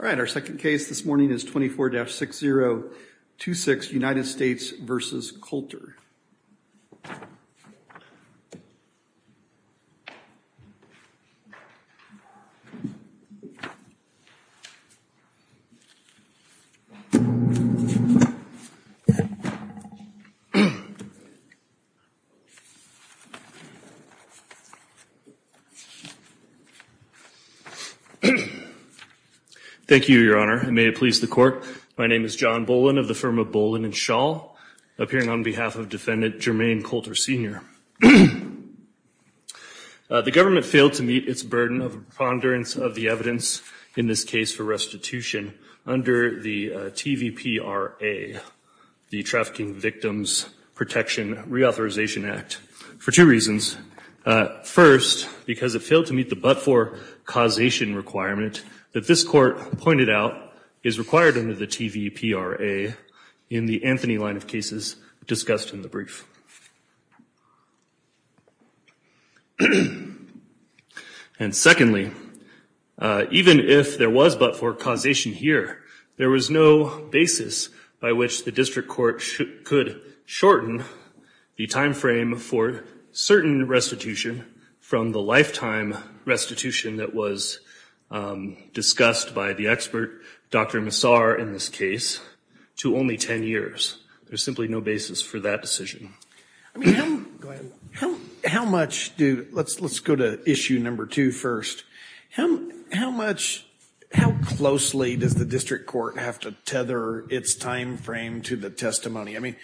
All right, our second case this morning is 24-6026, United States v. Coulter. Thank you, Your Honor, and may it please the Court, my name is John Boland of the firm of Boland & Schall, appearing on behalf of Defendant Jermaine Coulter, Sr. The government failed to meet its burden of preponderance of the evidence in this case for restitution under the TVPRA, the Trafficking Victims Protection Reauthorization Act, for two reasons. First, because it failed to meet the but-for causation requirement that this Court pointed out is required under the TVPRA in the Anthony line of cases discussed in the brief. And secondly, even if there was but-for causation here, there was no basis by which the District Court could shorten the timeframe for certain restitution from the lifetime restitution that was discussed by the expert, Dr. Massar, in this case, to only 10 years. There's simply no basis for that decision. How much do, let's go to issue number two first, how much, how closely does the District Court have to tether its timeframe to the testimony? I mean,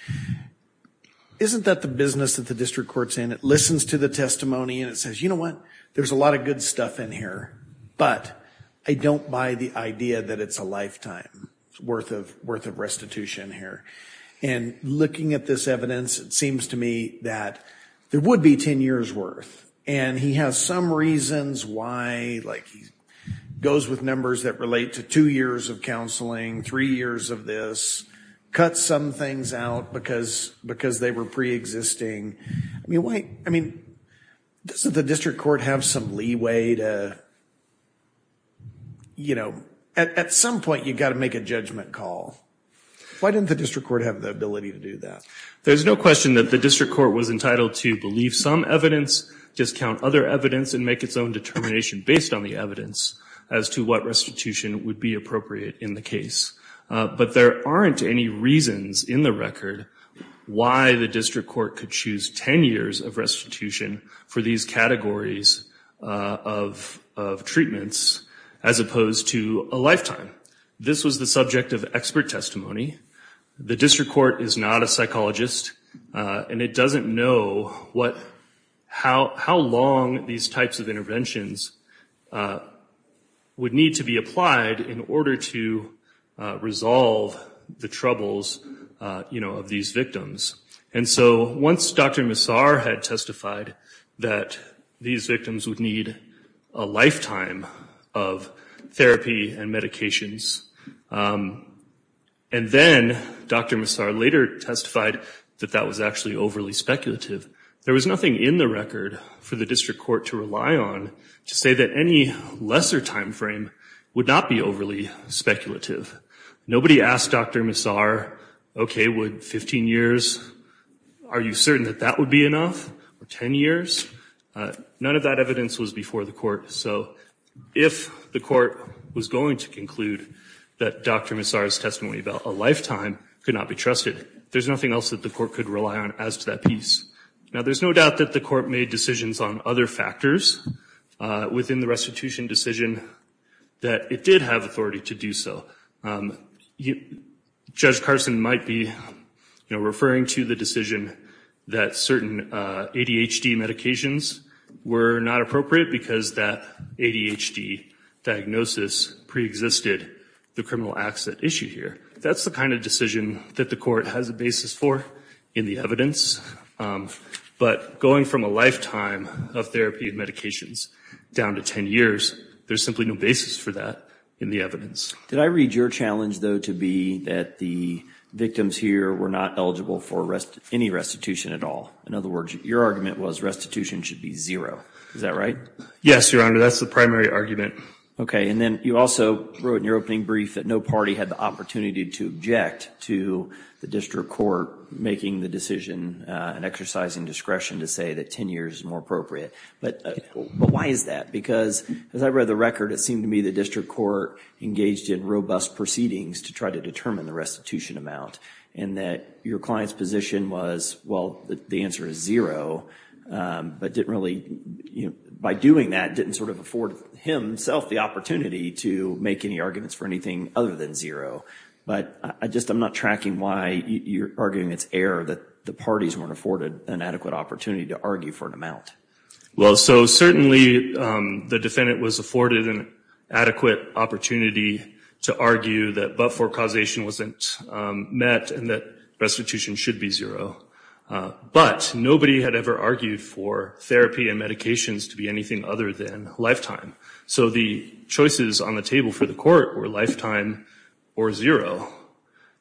isn't that the business that the District Court's in? It listens to the testimony and it says, you know what? There's a lot of good stuff in here, but I don't buy the idea that it's a lifetime worth of restitution here. And looking at this evidence, it seems to me that there would be 10 years worth. And he has some reasons why, like he goes with numbers that relate to two years of counseling, three years of this, cuts some things out because they were pre-existing, I mean, doesn't the District Court have some leeway to, you know, at some point you've got to make a judgment call. Why didn't the District Court have the ability to do that? There's no question that the District Court was entitled to believe some evidence, discount other evidence, and make its own determination based on the evidence as to what restitution would be appropriate in the case. But there aren't any reasons in the record why the District Court could choose 10 years of restitution for these categories of treatments as opposed to a lifetime. This was the subject of expert testimony. The District Court is not a psychologist, and it doesn't know how long these types of interventions would need to be applied in order to resolve the troubles, you know, of these victims. And so once Dr. Massar had testified that these victims would need a lifetime of therapy and medications, and then Dr. Massar later testified that that was actually overly speculative, there was nothing in the record for the District Court to rely on to say that any lesser time frame would not be overly speculative. Nobody asked Dr. Massar, okay, would 15 years, are you certain that that would be enough, or 10 years? None of that evidence was before the court. So if the court was going to conclude that Dr. Massar's testimony about a lifetime could not be trusted, there's nothing else that the court could rely on as to that piece. Now, there's no doubt that the court made decisions on other factors within the restitution decision that it did have authority to do so. Judge Carson might be referring to the decision that certain ADHD medications were not appropriate because that ADHD diagnosis preexisted the criminal acts at issue here. That's the kind of decision that the court has a basis for in the evidence. But going from a lifetime of therapy and medications down to 10 years, there's simply no basis for that in the evidence. Did I read your challenge, though, to be that the victims here were not eligible for any restitution at all? In other words, your argument was restitution should be zero. Is that right? Yes, Your Honor. That's the primary argument. Okay. And then you also wrote in your opening brief that no party had the opportunity to object to the district court making the decision and exercising discretion to say that 10 years is more appropriate. But why is that? Because as I read the record, it seemed to me the district court engaged in robust proceedings to try to determine the restitution amount and that your client's position was, well, the answer is zero, but didn't really, you know, by doing that, didn't sort of afford himself the opportunity to make any arguments for anything other than zero. But I just, I'm not tracking why you're arguing it's error that the parties weren't afforded an adequate opportunity to argue for an amount. Well, so certainly the defendant was afforded an adequate opportunity to argue that but for causation wasn't met and that restitution should be zero. But nobody had ever argued for therapy and medications to be anything other than lifetime. So the choices on the table for the court were lifetime or zero.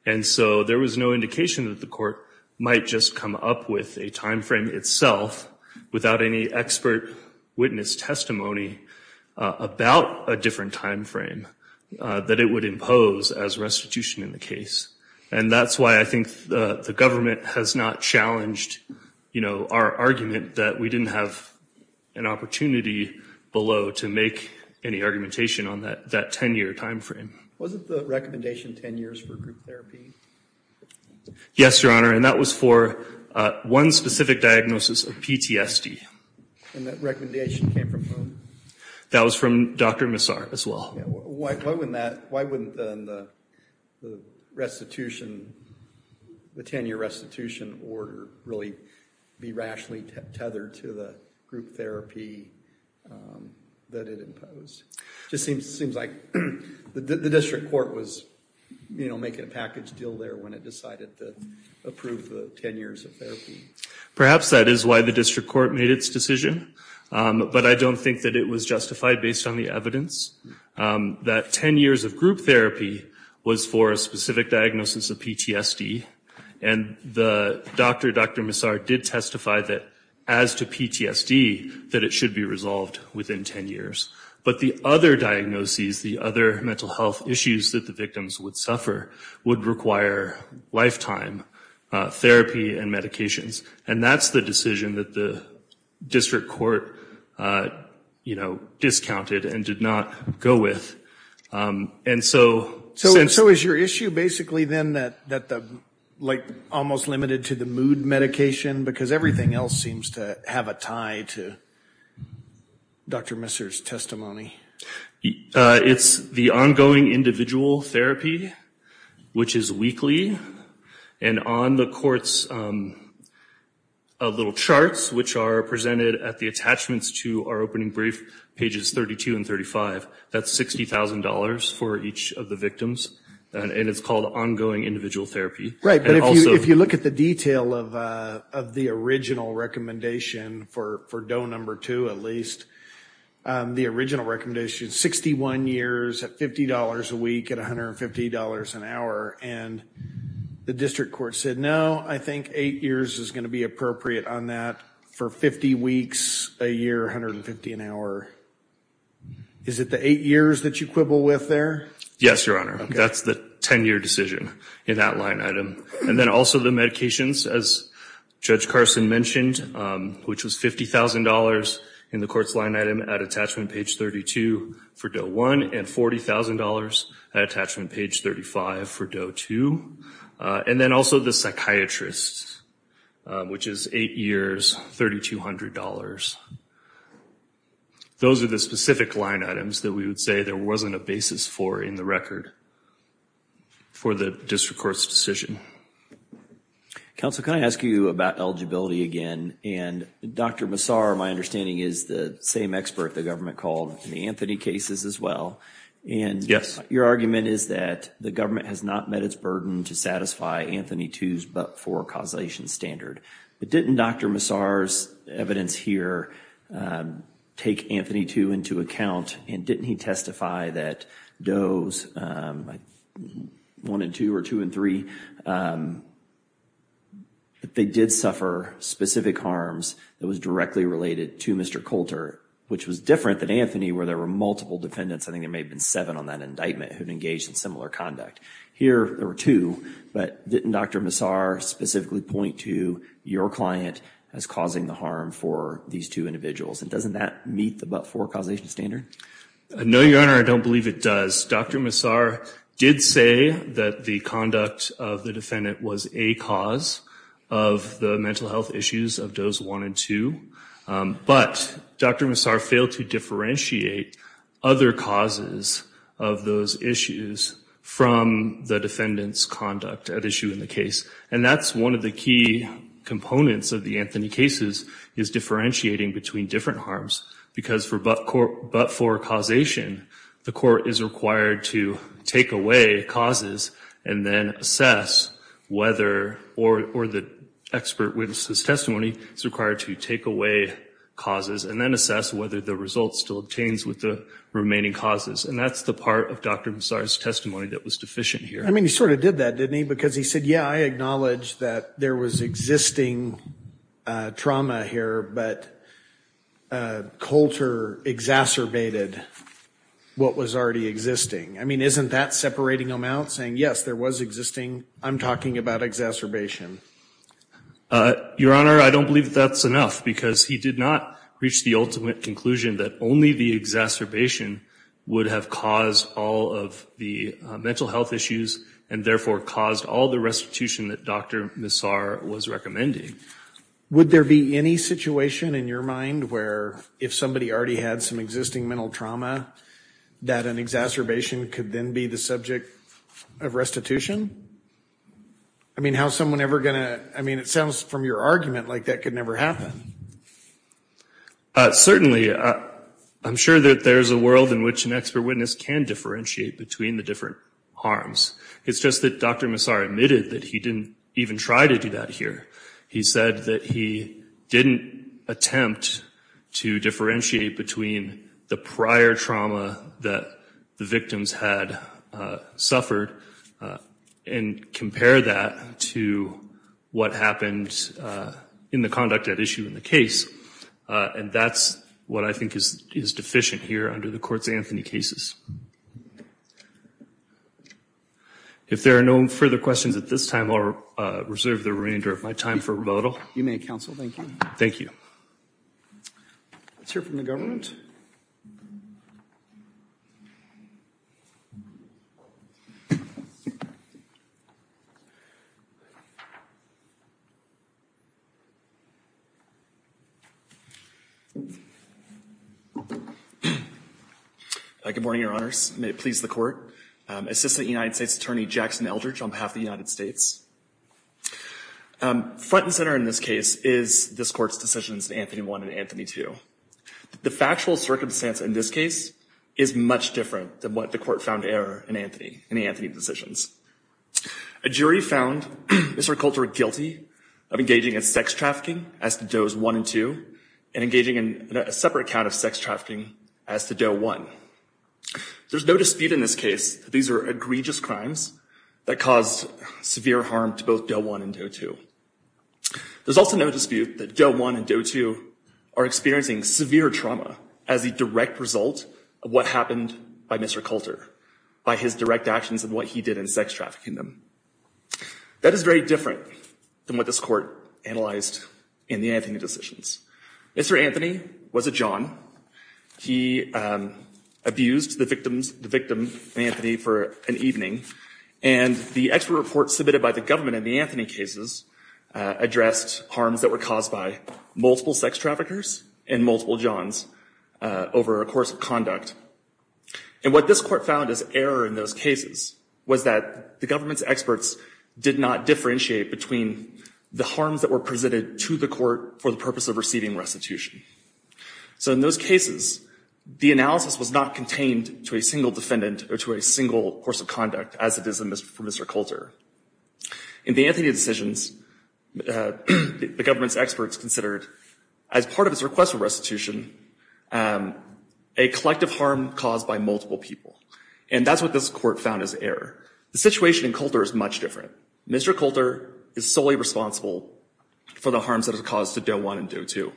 And so there was no indication that the court might just come up with a timeframe itself without any expert witness testimony about a different timeframe that it would impose as restitution in the case. And that's why I think the government has not challenged, you know, our argument that we didn't have an opportunity below to make any argumentation on that 10-year timeframe. Was it the recommendation 10 years for group therapy? Yes, Your Honor, and that was for one specific diagnosis of PTSD. And that recommendation came from whom? That was from Dr. Massar as well. Yeah, why wouldn't that, why wouldn't the restitution, the 10-year restitution order really be rationally tethered to the group therapy that it imposed? Just seems like the district court was, you know, making a package deal there when it decided to approve the 10 years of therapy. Perhaps that is why the district court made its decision, but I don't think that it was justified based on the evidence that 10 years of group therapy was for a specific diagnosis of PTSD. And the doctor, Dr. Massar, did testify that as to PTSD, that it should be resolved within 10 years. But the other diagnoses, the other mental health issues that the victims would suffer would require lifetime therapy and medications. And that's the decision that the district court, you know, discounted and did not go with. And so. So is your issue basically then that the, like, almost limited to the mood medication because everything else seems to have a tie to Dr. Massar's testimony? It's the ongoing individual therapy, which is weekly. And on the court's little charts, which are presented at the attachments to our opening brief, pages 32 and 35, that's $60,000 for each of the victims. And it's called ongoing individual therapy. Right. But if you look at the detail of the original recommendation for DOE number two, at least, the original recommendation is 61 years at $50 a week at $150 an hour. And the district court said, no, I think eight years is going to be appropriate on that for 50 weeks a year, $150 an hour. Is it the eight years that you quibble with there? Yes, Your Honor. That's the 10-year decision in that line item. And then also the medications, as Judge Carson mentioned, which was $50,000 in the court's line item at attachment page 32 for DOE one and $40,000 at attachment page 35 for DOE two. And then also the psychiatrist, which is eight years, $3,200. Those are the specific line items that we would say there wasn't a basis for in the record for the district court's decision. Counsel, can I ask you about eligibility again? And Dr. Massar, my understanding, is the same expert the government called in the Anthony cases as well. Yes. Your argument is that the government has not met its burden to satisfy Anthony II's but for causation standard. But didn't Dr. Massar's evidence here take Anthony II into account? And didn't he testify that DOE's one and two or two and three, that they did suffer specific harms that was directly related to Mr. Coulter, which was different than Anthony where there were multiple defendants. I think there may have been seven on that indictment who had engaged in similar conduct. Here there were two. But didn't Dr. Massar specifically point to your client as causing the harm for these two individuals? And doesn't that meet the but for causation standard? No, Your Honor. I don't believe it does. Dr. Massar did say that the conduct of the defendant was a cause of the mental health issues of DOE's one and two. But Dr. Massar failed to differentiate other causes of those issues from the defendant's conduct at issue in the case. And that's one of the key components of the Anthony cases, is differentiating between different harms. Because for but for causation, the court is required to take away causes and then assess whether or the expert witnesses testimony is required to take away causes and then assess whether the result still obtains with the remaining causes. And that's the part of Dr. Massar's testimony that was deficient here. I mean, he sort of did that, didn't he? Because he said, yeah, I acknowledge that there was existing trauma here, but Coulter exacerbated what was already existing. I mean, isn't that separating them out saying, yes, there was existing? I'm talking about exacerbation. Your Honor, I don't believe that's enough because he did not reach the ultimate conclusion that only the exacerbation would have caused all of the mental health issues and therefore caused all the restitution that Dr. Massar was recommending. Would there be any situation in your mind where if somebody already had some existing mental trauma, that an exacerbation could then be the subject of restitution? I mean, how's someone ever going to? I mean, it sounds from your argument like that could never happen. Certainly, I'm sure that there's a world in which an expert witness can differentiate between the different harms. It's just that Dr. Massar admitted that he didn't even try to do that here. He said that he didn't attempt to differentiate between the prior trauma that the victims had suffered and compare that to what happened in the conduct at issue in the case. And that's what I think is deficient here under the Courts of Anthony cases. If there are no further questions at this time, I'll reserve the remainder of my time for rebuttal. You may, counsel. Thank you. Thank you. Let's hear from the government. Good morning, Your Honors. May it please the Court. Assistant United States Attorney Jackson Eldridge on behalf of the United States. Front and center in this case is this Court's decisions in Anthony 1 and Anthony 2. The factual circumstance in this case is much different than what the court found error in Anthony, in the Anthony decisions. A jury found Mr. Colter guilty of engaging in sex trafficking as to does 1 and 2 and engaging in a separate count of sex trafficking as to Doe 1. There's no dispute in this case. These are egregious crimes that cause severe harm to both Doe 1 and Doe 2. There's also no dispute that Doe 1 and Doe 2 are experiencing severe trauma as a direct result of what happened by Mr. Colter, by his direct actions and what he did in sex trafficking them. That is very different than what this court analyzed in the Anthony decisions. Mr. Anthony was a John. He abused the victims, the victim, Anthony for an evening. And the expert report submitted by the government in the Anthony cases addressed harms that were caused by multiple sex traffickers and multiple Johns over a course of conduct. And what this court found as error in those cases was that the government's experts did not differentiate between the harms that were presented to the court for the purpose of receiving restitution. So in those cases, the analysis was not contained to a single defendant or to a single course of conduct as it is for Mr. Colter. In the Anthony decisions, the government's experts considered as part of his request for restitution, a collective harm caused by multiple people. And that's what this court found as error. The situation in Colter is much different. Mr. Colter is solely responsible for the harms that are caused to Doe 1 and Doe 2.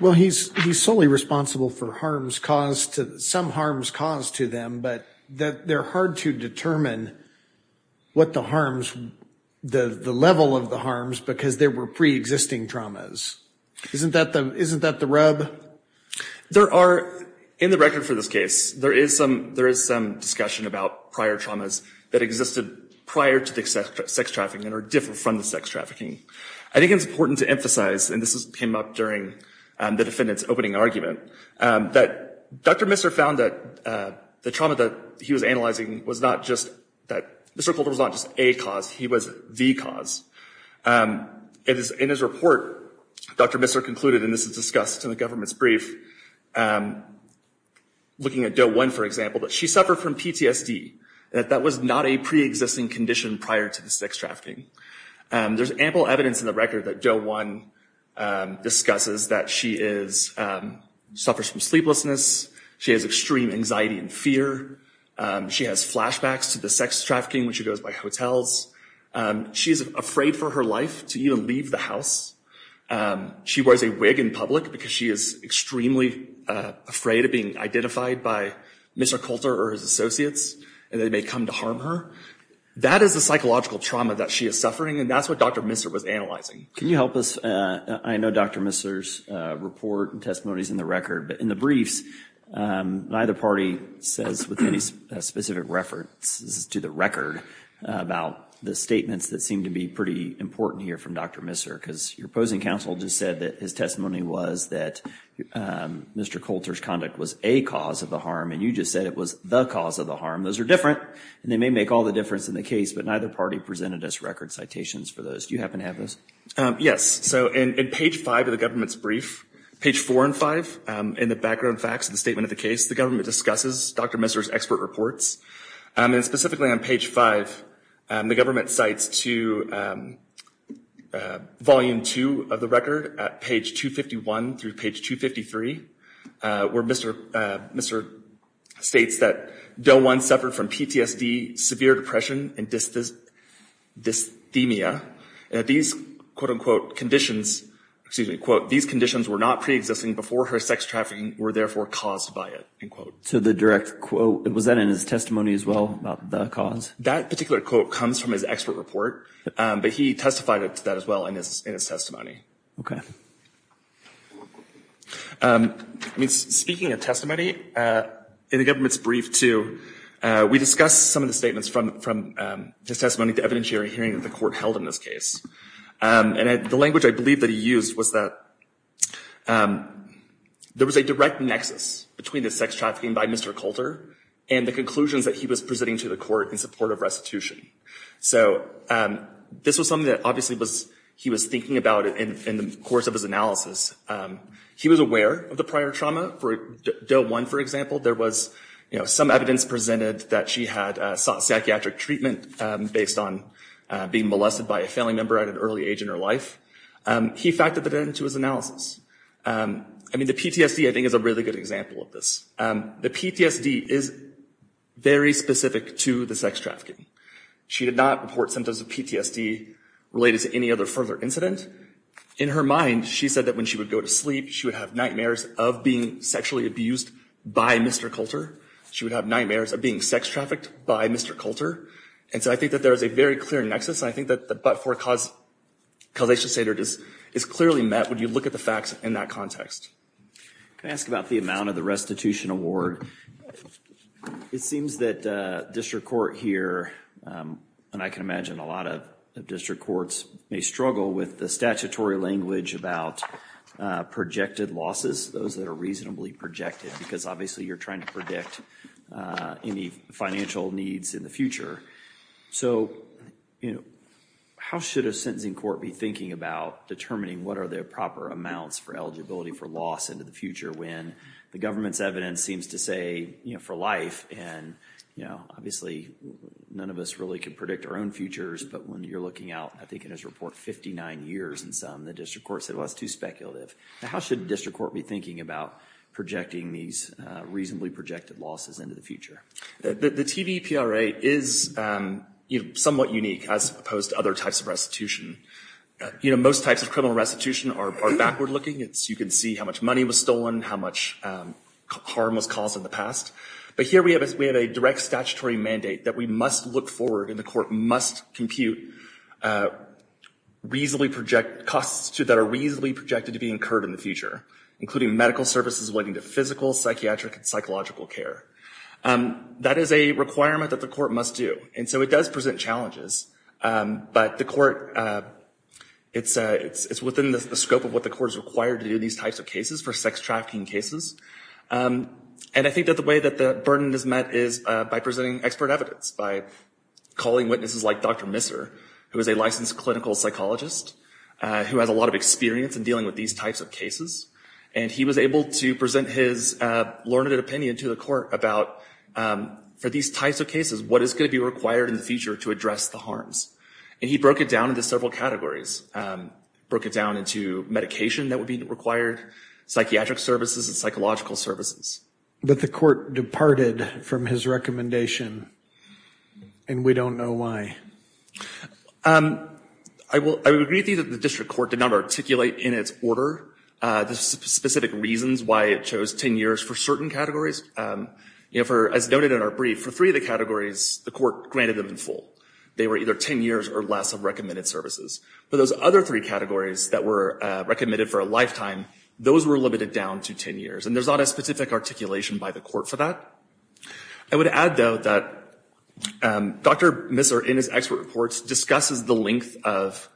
Well, he's solely responsible for harms caused to some harms caused to them, but that they're hard to determine what the harms, the level of the harms, because there were pre-existing traumas. Isn't that the isn't that the rub? There are in the record for this case, there is some there is some discussion about prior traumas that existed prior to the sex trafficking or different from the sex trafficking. I think it's important to emphasize, and this came up during the defendant's opening argument, that Dr. Misser found that the trauma that he was analyzing was not just that Mr. Colter was not just a cause, he was the cause. It is in his report, Dr. Misser concluded, and this is discussed in the government's brief, looking at Doe 1, for example, that she suffered from PTSD, that that was not a pre-existing condition prior to the sex trafficking. There's ample evidence in the record that Doe 1 discusses that she suffers from sleeplessness, she has extreme anxiety and fear, she has flashbacks to the sex trafficking when she goes by hotels. She's afraid for her life to even leave the house. She wears a wig in public because she is extremely afraid of being identified by Mr. Colter or his associates, and they may come to harm her. That is a psychological trauma that she is suffering, and that's what Dr. Misser was analyzing. Can you help us? I know Dr. Misser's report and testimony is in the record, but in the briefs, neither party says with any specific references to the record about the statements that seem to be pretty important here from Dr. Misser, because your opposing counsel just said that his testimony was that Mr. Colter's conduct was a cause of the harm, and you just said it was the cause of the harm. Those are different, and they may make all the difference in the case, but neither party presented us record citations for those. Do you happen to have those? Yes. So in page 5 of the government's brief, page 4 and 5, in the background facts of the statement of the case, the government discusses Dr. Misser's expert reports, and specifically on page 5, the government cites to volume 2 of the record at page 251 through page 253, where Mr. Misser states that Del One suffered from PTSD, severe depression, and dysthymia, and that these, quote-unquote, conditions, excuse me, quote, these conditions were not pre-existing before her sex trafficking were therefore caused by it, end quote. So the direct quote, was that in his testimony as well about the cause? That particular quote comes from his expert report, but he testified to that as well in his testimony. Okay. I mean, speaking of testimony, in the government's brief too, we discussed some of the statements from his testimony, the evidentiary hearing that the court held in this case, and the language I believe that he used was that there was a direct nexus between the sex trafficking by Mr. Coulter and the conclusions that he was presenting to the court in support of restitution. So this was something that obviously he was thinking about in the course of his analysis. He was aware of the prior trauma for Del One, for example. There was some evidence presented that she had sought psychiatric treatment based on being molested by a family member at an early age in her life. He factored that into his analysis. I mean, the PTSD, I think, is a really good example of this. The PTSD is very specific to the sex trafficking. She did not report symptoms of PTSD related to any other further incident. In her mind, she said that when she would go to sleep, she would have nightmares of being sexually abused by Mr. Coulter. She would have nightmares of being sex trafficked by Mr. Coulter. And so I think that there is a very clear nexus, and I think that the but-for causation standard is clearly met when you look at the facts in that context. Can I ask about the amount of the restitution award? It seems that district court here, and I can imagine a lot of district courts, may struggle with the statutory language about projected losses, those that are reasonably projected, because obviously you're trying to predict any financial needs in the future. So how should a sentencing court be thinking about determining what are the proper amounts for eligibility for loss into the future when the government's evidence seems to say for life, and obviously none of us really can predict our own futures, but when you're looking out, I think in his report, 59 years and some, the district court said, well, that's too speculative. Now, how should district court be thinking about projecting these reasonably projected losses into the future? The TVPRA is somewhat unique, as opposed to other types of restitution. You know, most types of criminal restitution are backward looking. It's, you can see how much money was stolen, how much harm was caused in the past. But here we have a direct statutory mandate that we must look forward, and the court must compute reasonably projected costs that are reasonably projected to be incurred in the future, including medical services leading to physical, psychiatric, and psychological care. That is a requirement that the court must do, and so it does present challenges. But the court, it's within the scope of what the court is required to do in these types of cases for sex trafficking cases. And I think that the way that the burden is met is by presenting expert evidence, by calling witnesses like Dr. Misser, who is a licensed clinical psychologist, who has a lot of experience in dealing with these types of cases. And he was able to present his learned opinion to the court about, for these types of cases, what is going to be required in the future to address the harms. And he broke it down into several categories. Broke it down into medication that would be required, psychiatric services, and psychological services. But the court departed from his recommendation, and we don't know why. I would agree that the district court did not articulate in its order the specific reasons why it chose 10 years for certain categories. You know, for, as noted in our brief, for three of the categories, the court granted them in full. They were either 10 years or less of recommended services. But those other three categories that were recommended for a lifetime, those were limited down to 10 years. And there's not a specific articulation by the court for that. I would add, though, that Dr. Misser, in his expert reports, discusses the length of,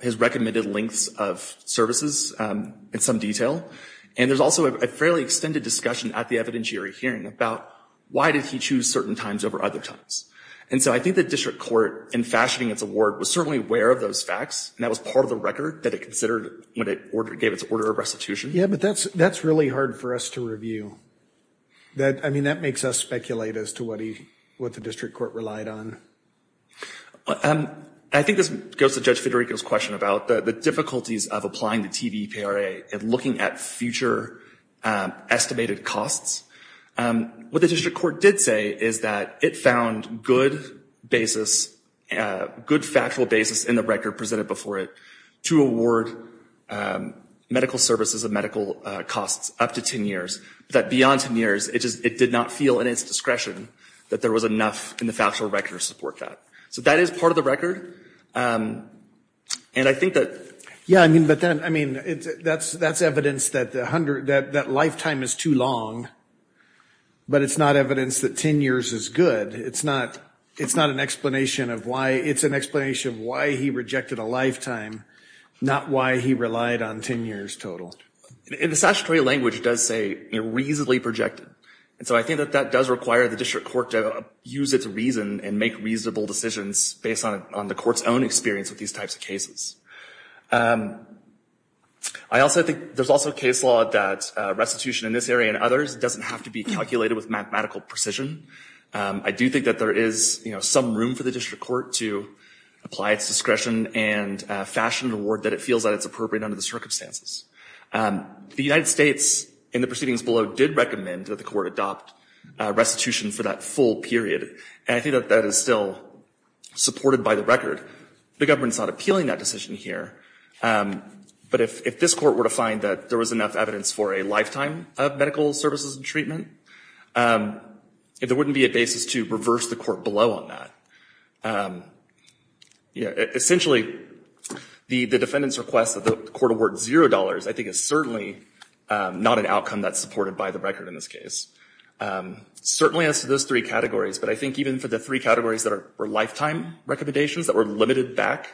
his recommended lengths of services in some detail. And there's also a fairly extended discussion at the evidentiary hearing about why did he choose certain times over other times? And so I think the district court, in fashioning its award, was certainly aware of those facts. And that was part of the record that it considered when it gave its order of restitution. Yeah, but that's really hard for us to review. I mean, that makes us speculate as to what the district court relied on. I think this goes to Judge Federico's question about the difficulties of applying the TVPRA and looking at future estimated costs. What the district court did say is that it found good basis, good factual basis in the record presented before it to award medical services and medical costs up to 10 years. That beyond 10 years, it just, it did not feel in its discretion that there was enough in the factual record to support that. So that is part of the record. And I think that... Yeah, I mean, but then, I mean, that's evidence that the 100, that lifetime is too long. But it's not evidence that 10 years is good. It's not, it's not an explanation of why, it's an explanation of why he rejected a lifetime, not why he relied on 10 years total. In the statutory language, it does say reasonably projected. And so I think that that does require the district court to use its reason and make reasonable decisions based on the court's own experience with these types of cases. I also think there's also case law that restitution in this area and others doesn't have to be calculated with mathematical precision. I do think that there is some room for the district court to apply its discretion and fashion an award that it feels that it's appropriate under the circumstances. And the United States in the proceedings below did recommend that the court adopt restitution for that full period. And I think that that is still supported by the record. The government's not appealing that decision here. But if this court were to find that there was enough evidence for a lifetime of medical services and treatment, there wouldn't be a basis to reverse the court below on that. Essentially, the defendant's request that the court award zero dollars, I think, is certainly not an outcome that's supported by the record in this case. Certainly as to those three categories, but I think even for the three categories that were lifetime recommendations that were limited back,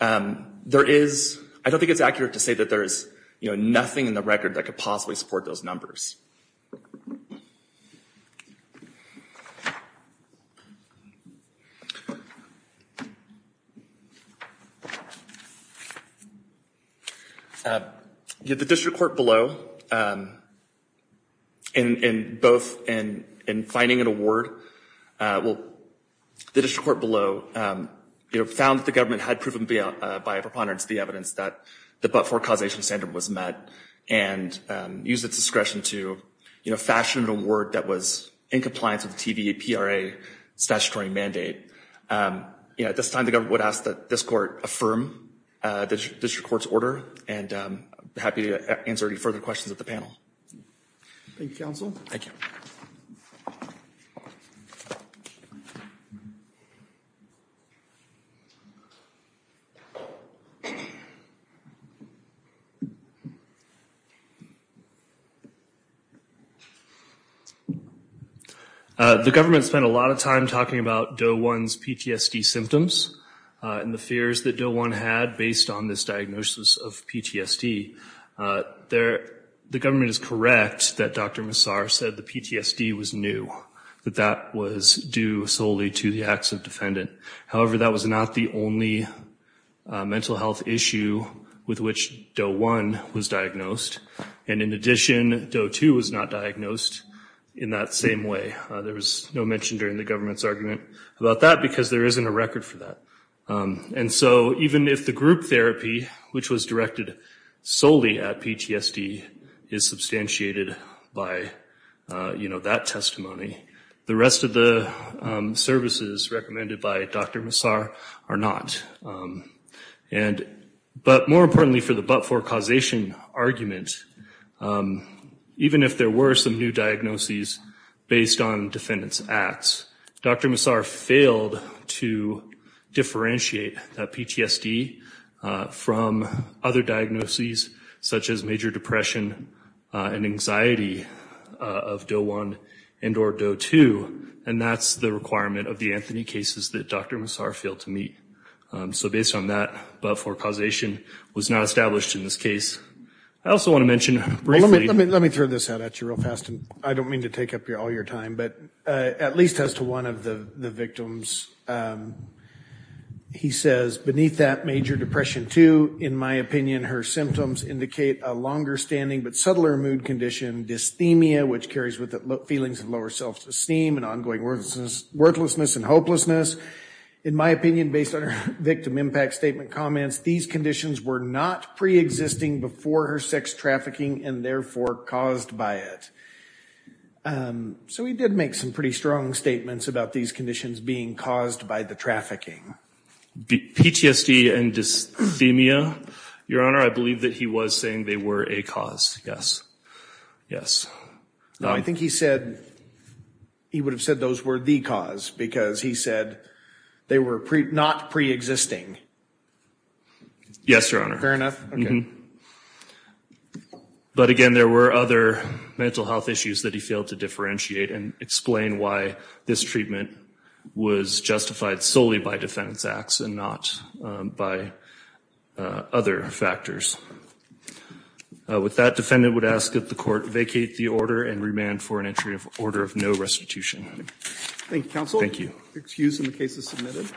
there is, I don't think it's accurate to say that there is, you know, nothing in the record that could possibly support those numbers. You know, the district court below, in both in finding an award, well, the district court below, you know, found that the government had proven by a preponderance the evidence that the but-for causation standard was met and used its discretion to, you know, fashion an award that was in compliance with the TVA-PRA statutory mandate. You know, at this time the government would ask that this court affirm the district court's order and I'm happy to answer any further questions at the panel. Thank you, counsel. Thank you. The government spent a lot of time talking about DOE-1's PTSD symptoms and the fears that DOE-1 had based on this diagnosis of PTSD. There, the government is correct that Dr. Massar said the PTSD was new, that that was due solely to the acts of defendant. However, that was not the only mental health issue with which DOE-1 was diagnosed. And in addition, DOE-2 was not diagnosed in that same way. There was no mention during the government's argument about that because there isn't a record for that. And so even if the group therapy, which was directed solely at PTSD, is substantiated by, you know, that testimony, the rest of the services recommended by Dr. Massar are not. And, but more importantly for the but-for causation argument, even if there were some new diagnoses based on defendant's acts, Dr. Massar failed to differentiate that PTSD from other diagnoses such as major depression and anxiety of DOE-1 and or DOE-2. And that's the requirement of the Anthony cases that Dr. Massar failed to meet. So based on that, but-for causation was not established in this case. I also want to mention briefly... Let me throw this out at you real fast. I don't mean to take up all your time, but at least as to one of the victims, he says beneath that major depression too, in my opinion, her symptoms indicate a longer standing but subtler mood condition, dysthemia, which carries with it feelings of lower self-esteem and ongoing worthlessness and hopelessness. In my opinion, based on her victim impact statement comments, these conditions were not pre-existing before her sex trafficking and therefore caused by it. So he did make some pretty strong statements about these conditions being caused by the trafficking. PTSD and dysthemia, Your Honor, I believe that he was saying they were a cause. Yes. Yes. No, I think he said he would have said those were the cause because he said they were not pre-existing. Yes, Your Honor. Fair enough. But again, there were other mental health issues that he failed to differentiate and explain why this treatment was justified solely by defendant's acts and not by other factors. With that, defendant would ask that the court vacate the order and remand for an entry of order of no restitution. Thank you, counsel. Excused and the case is submitted.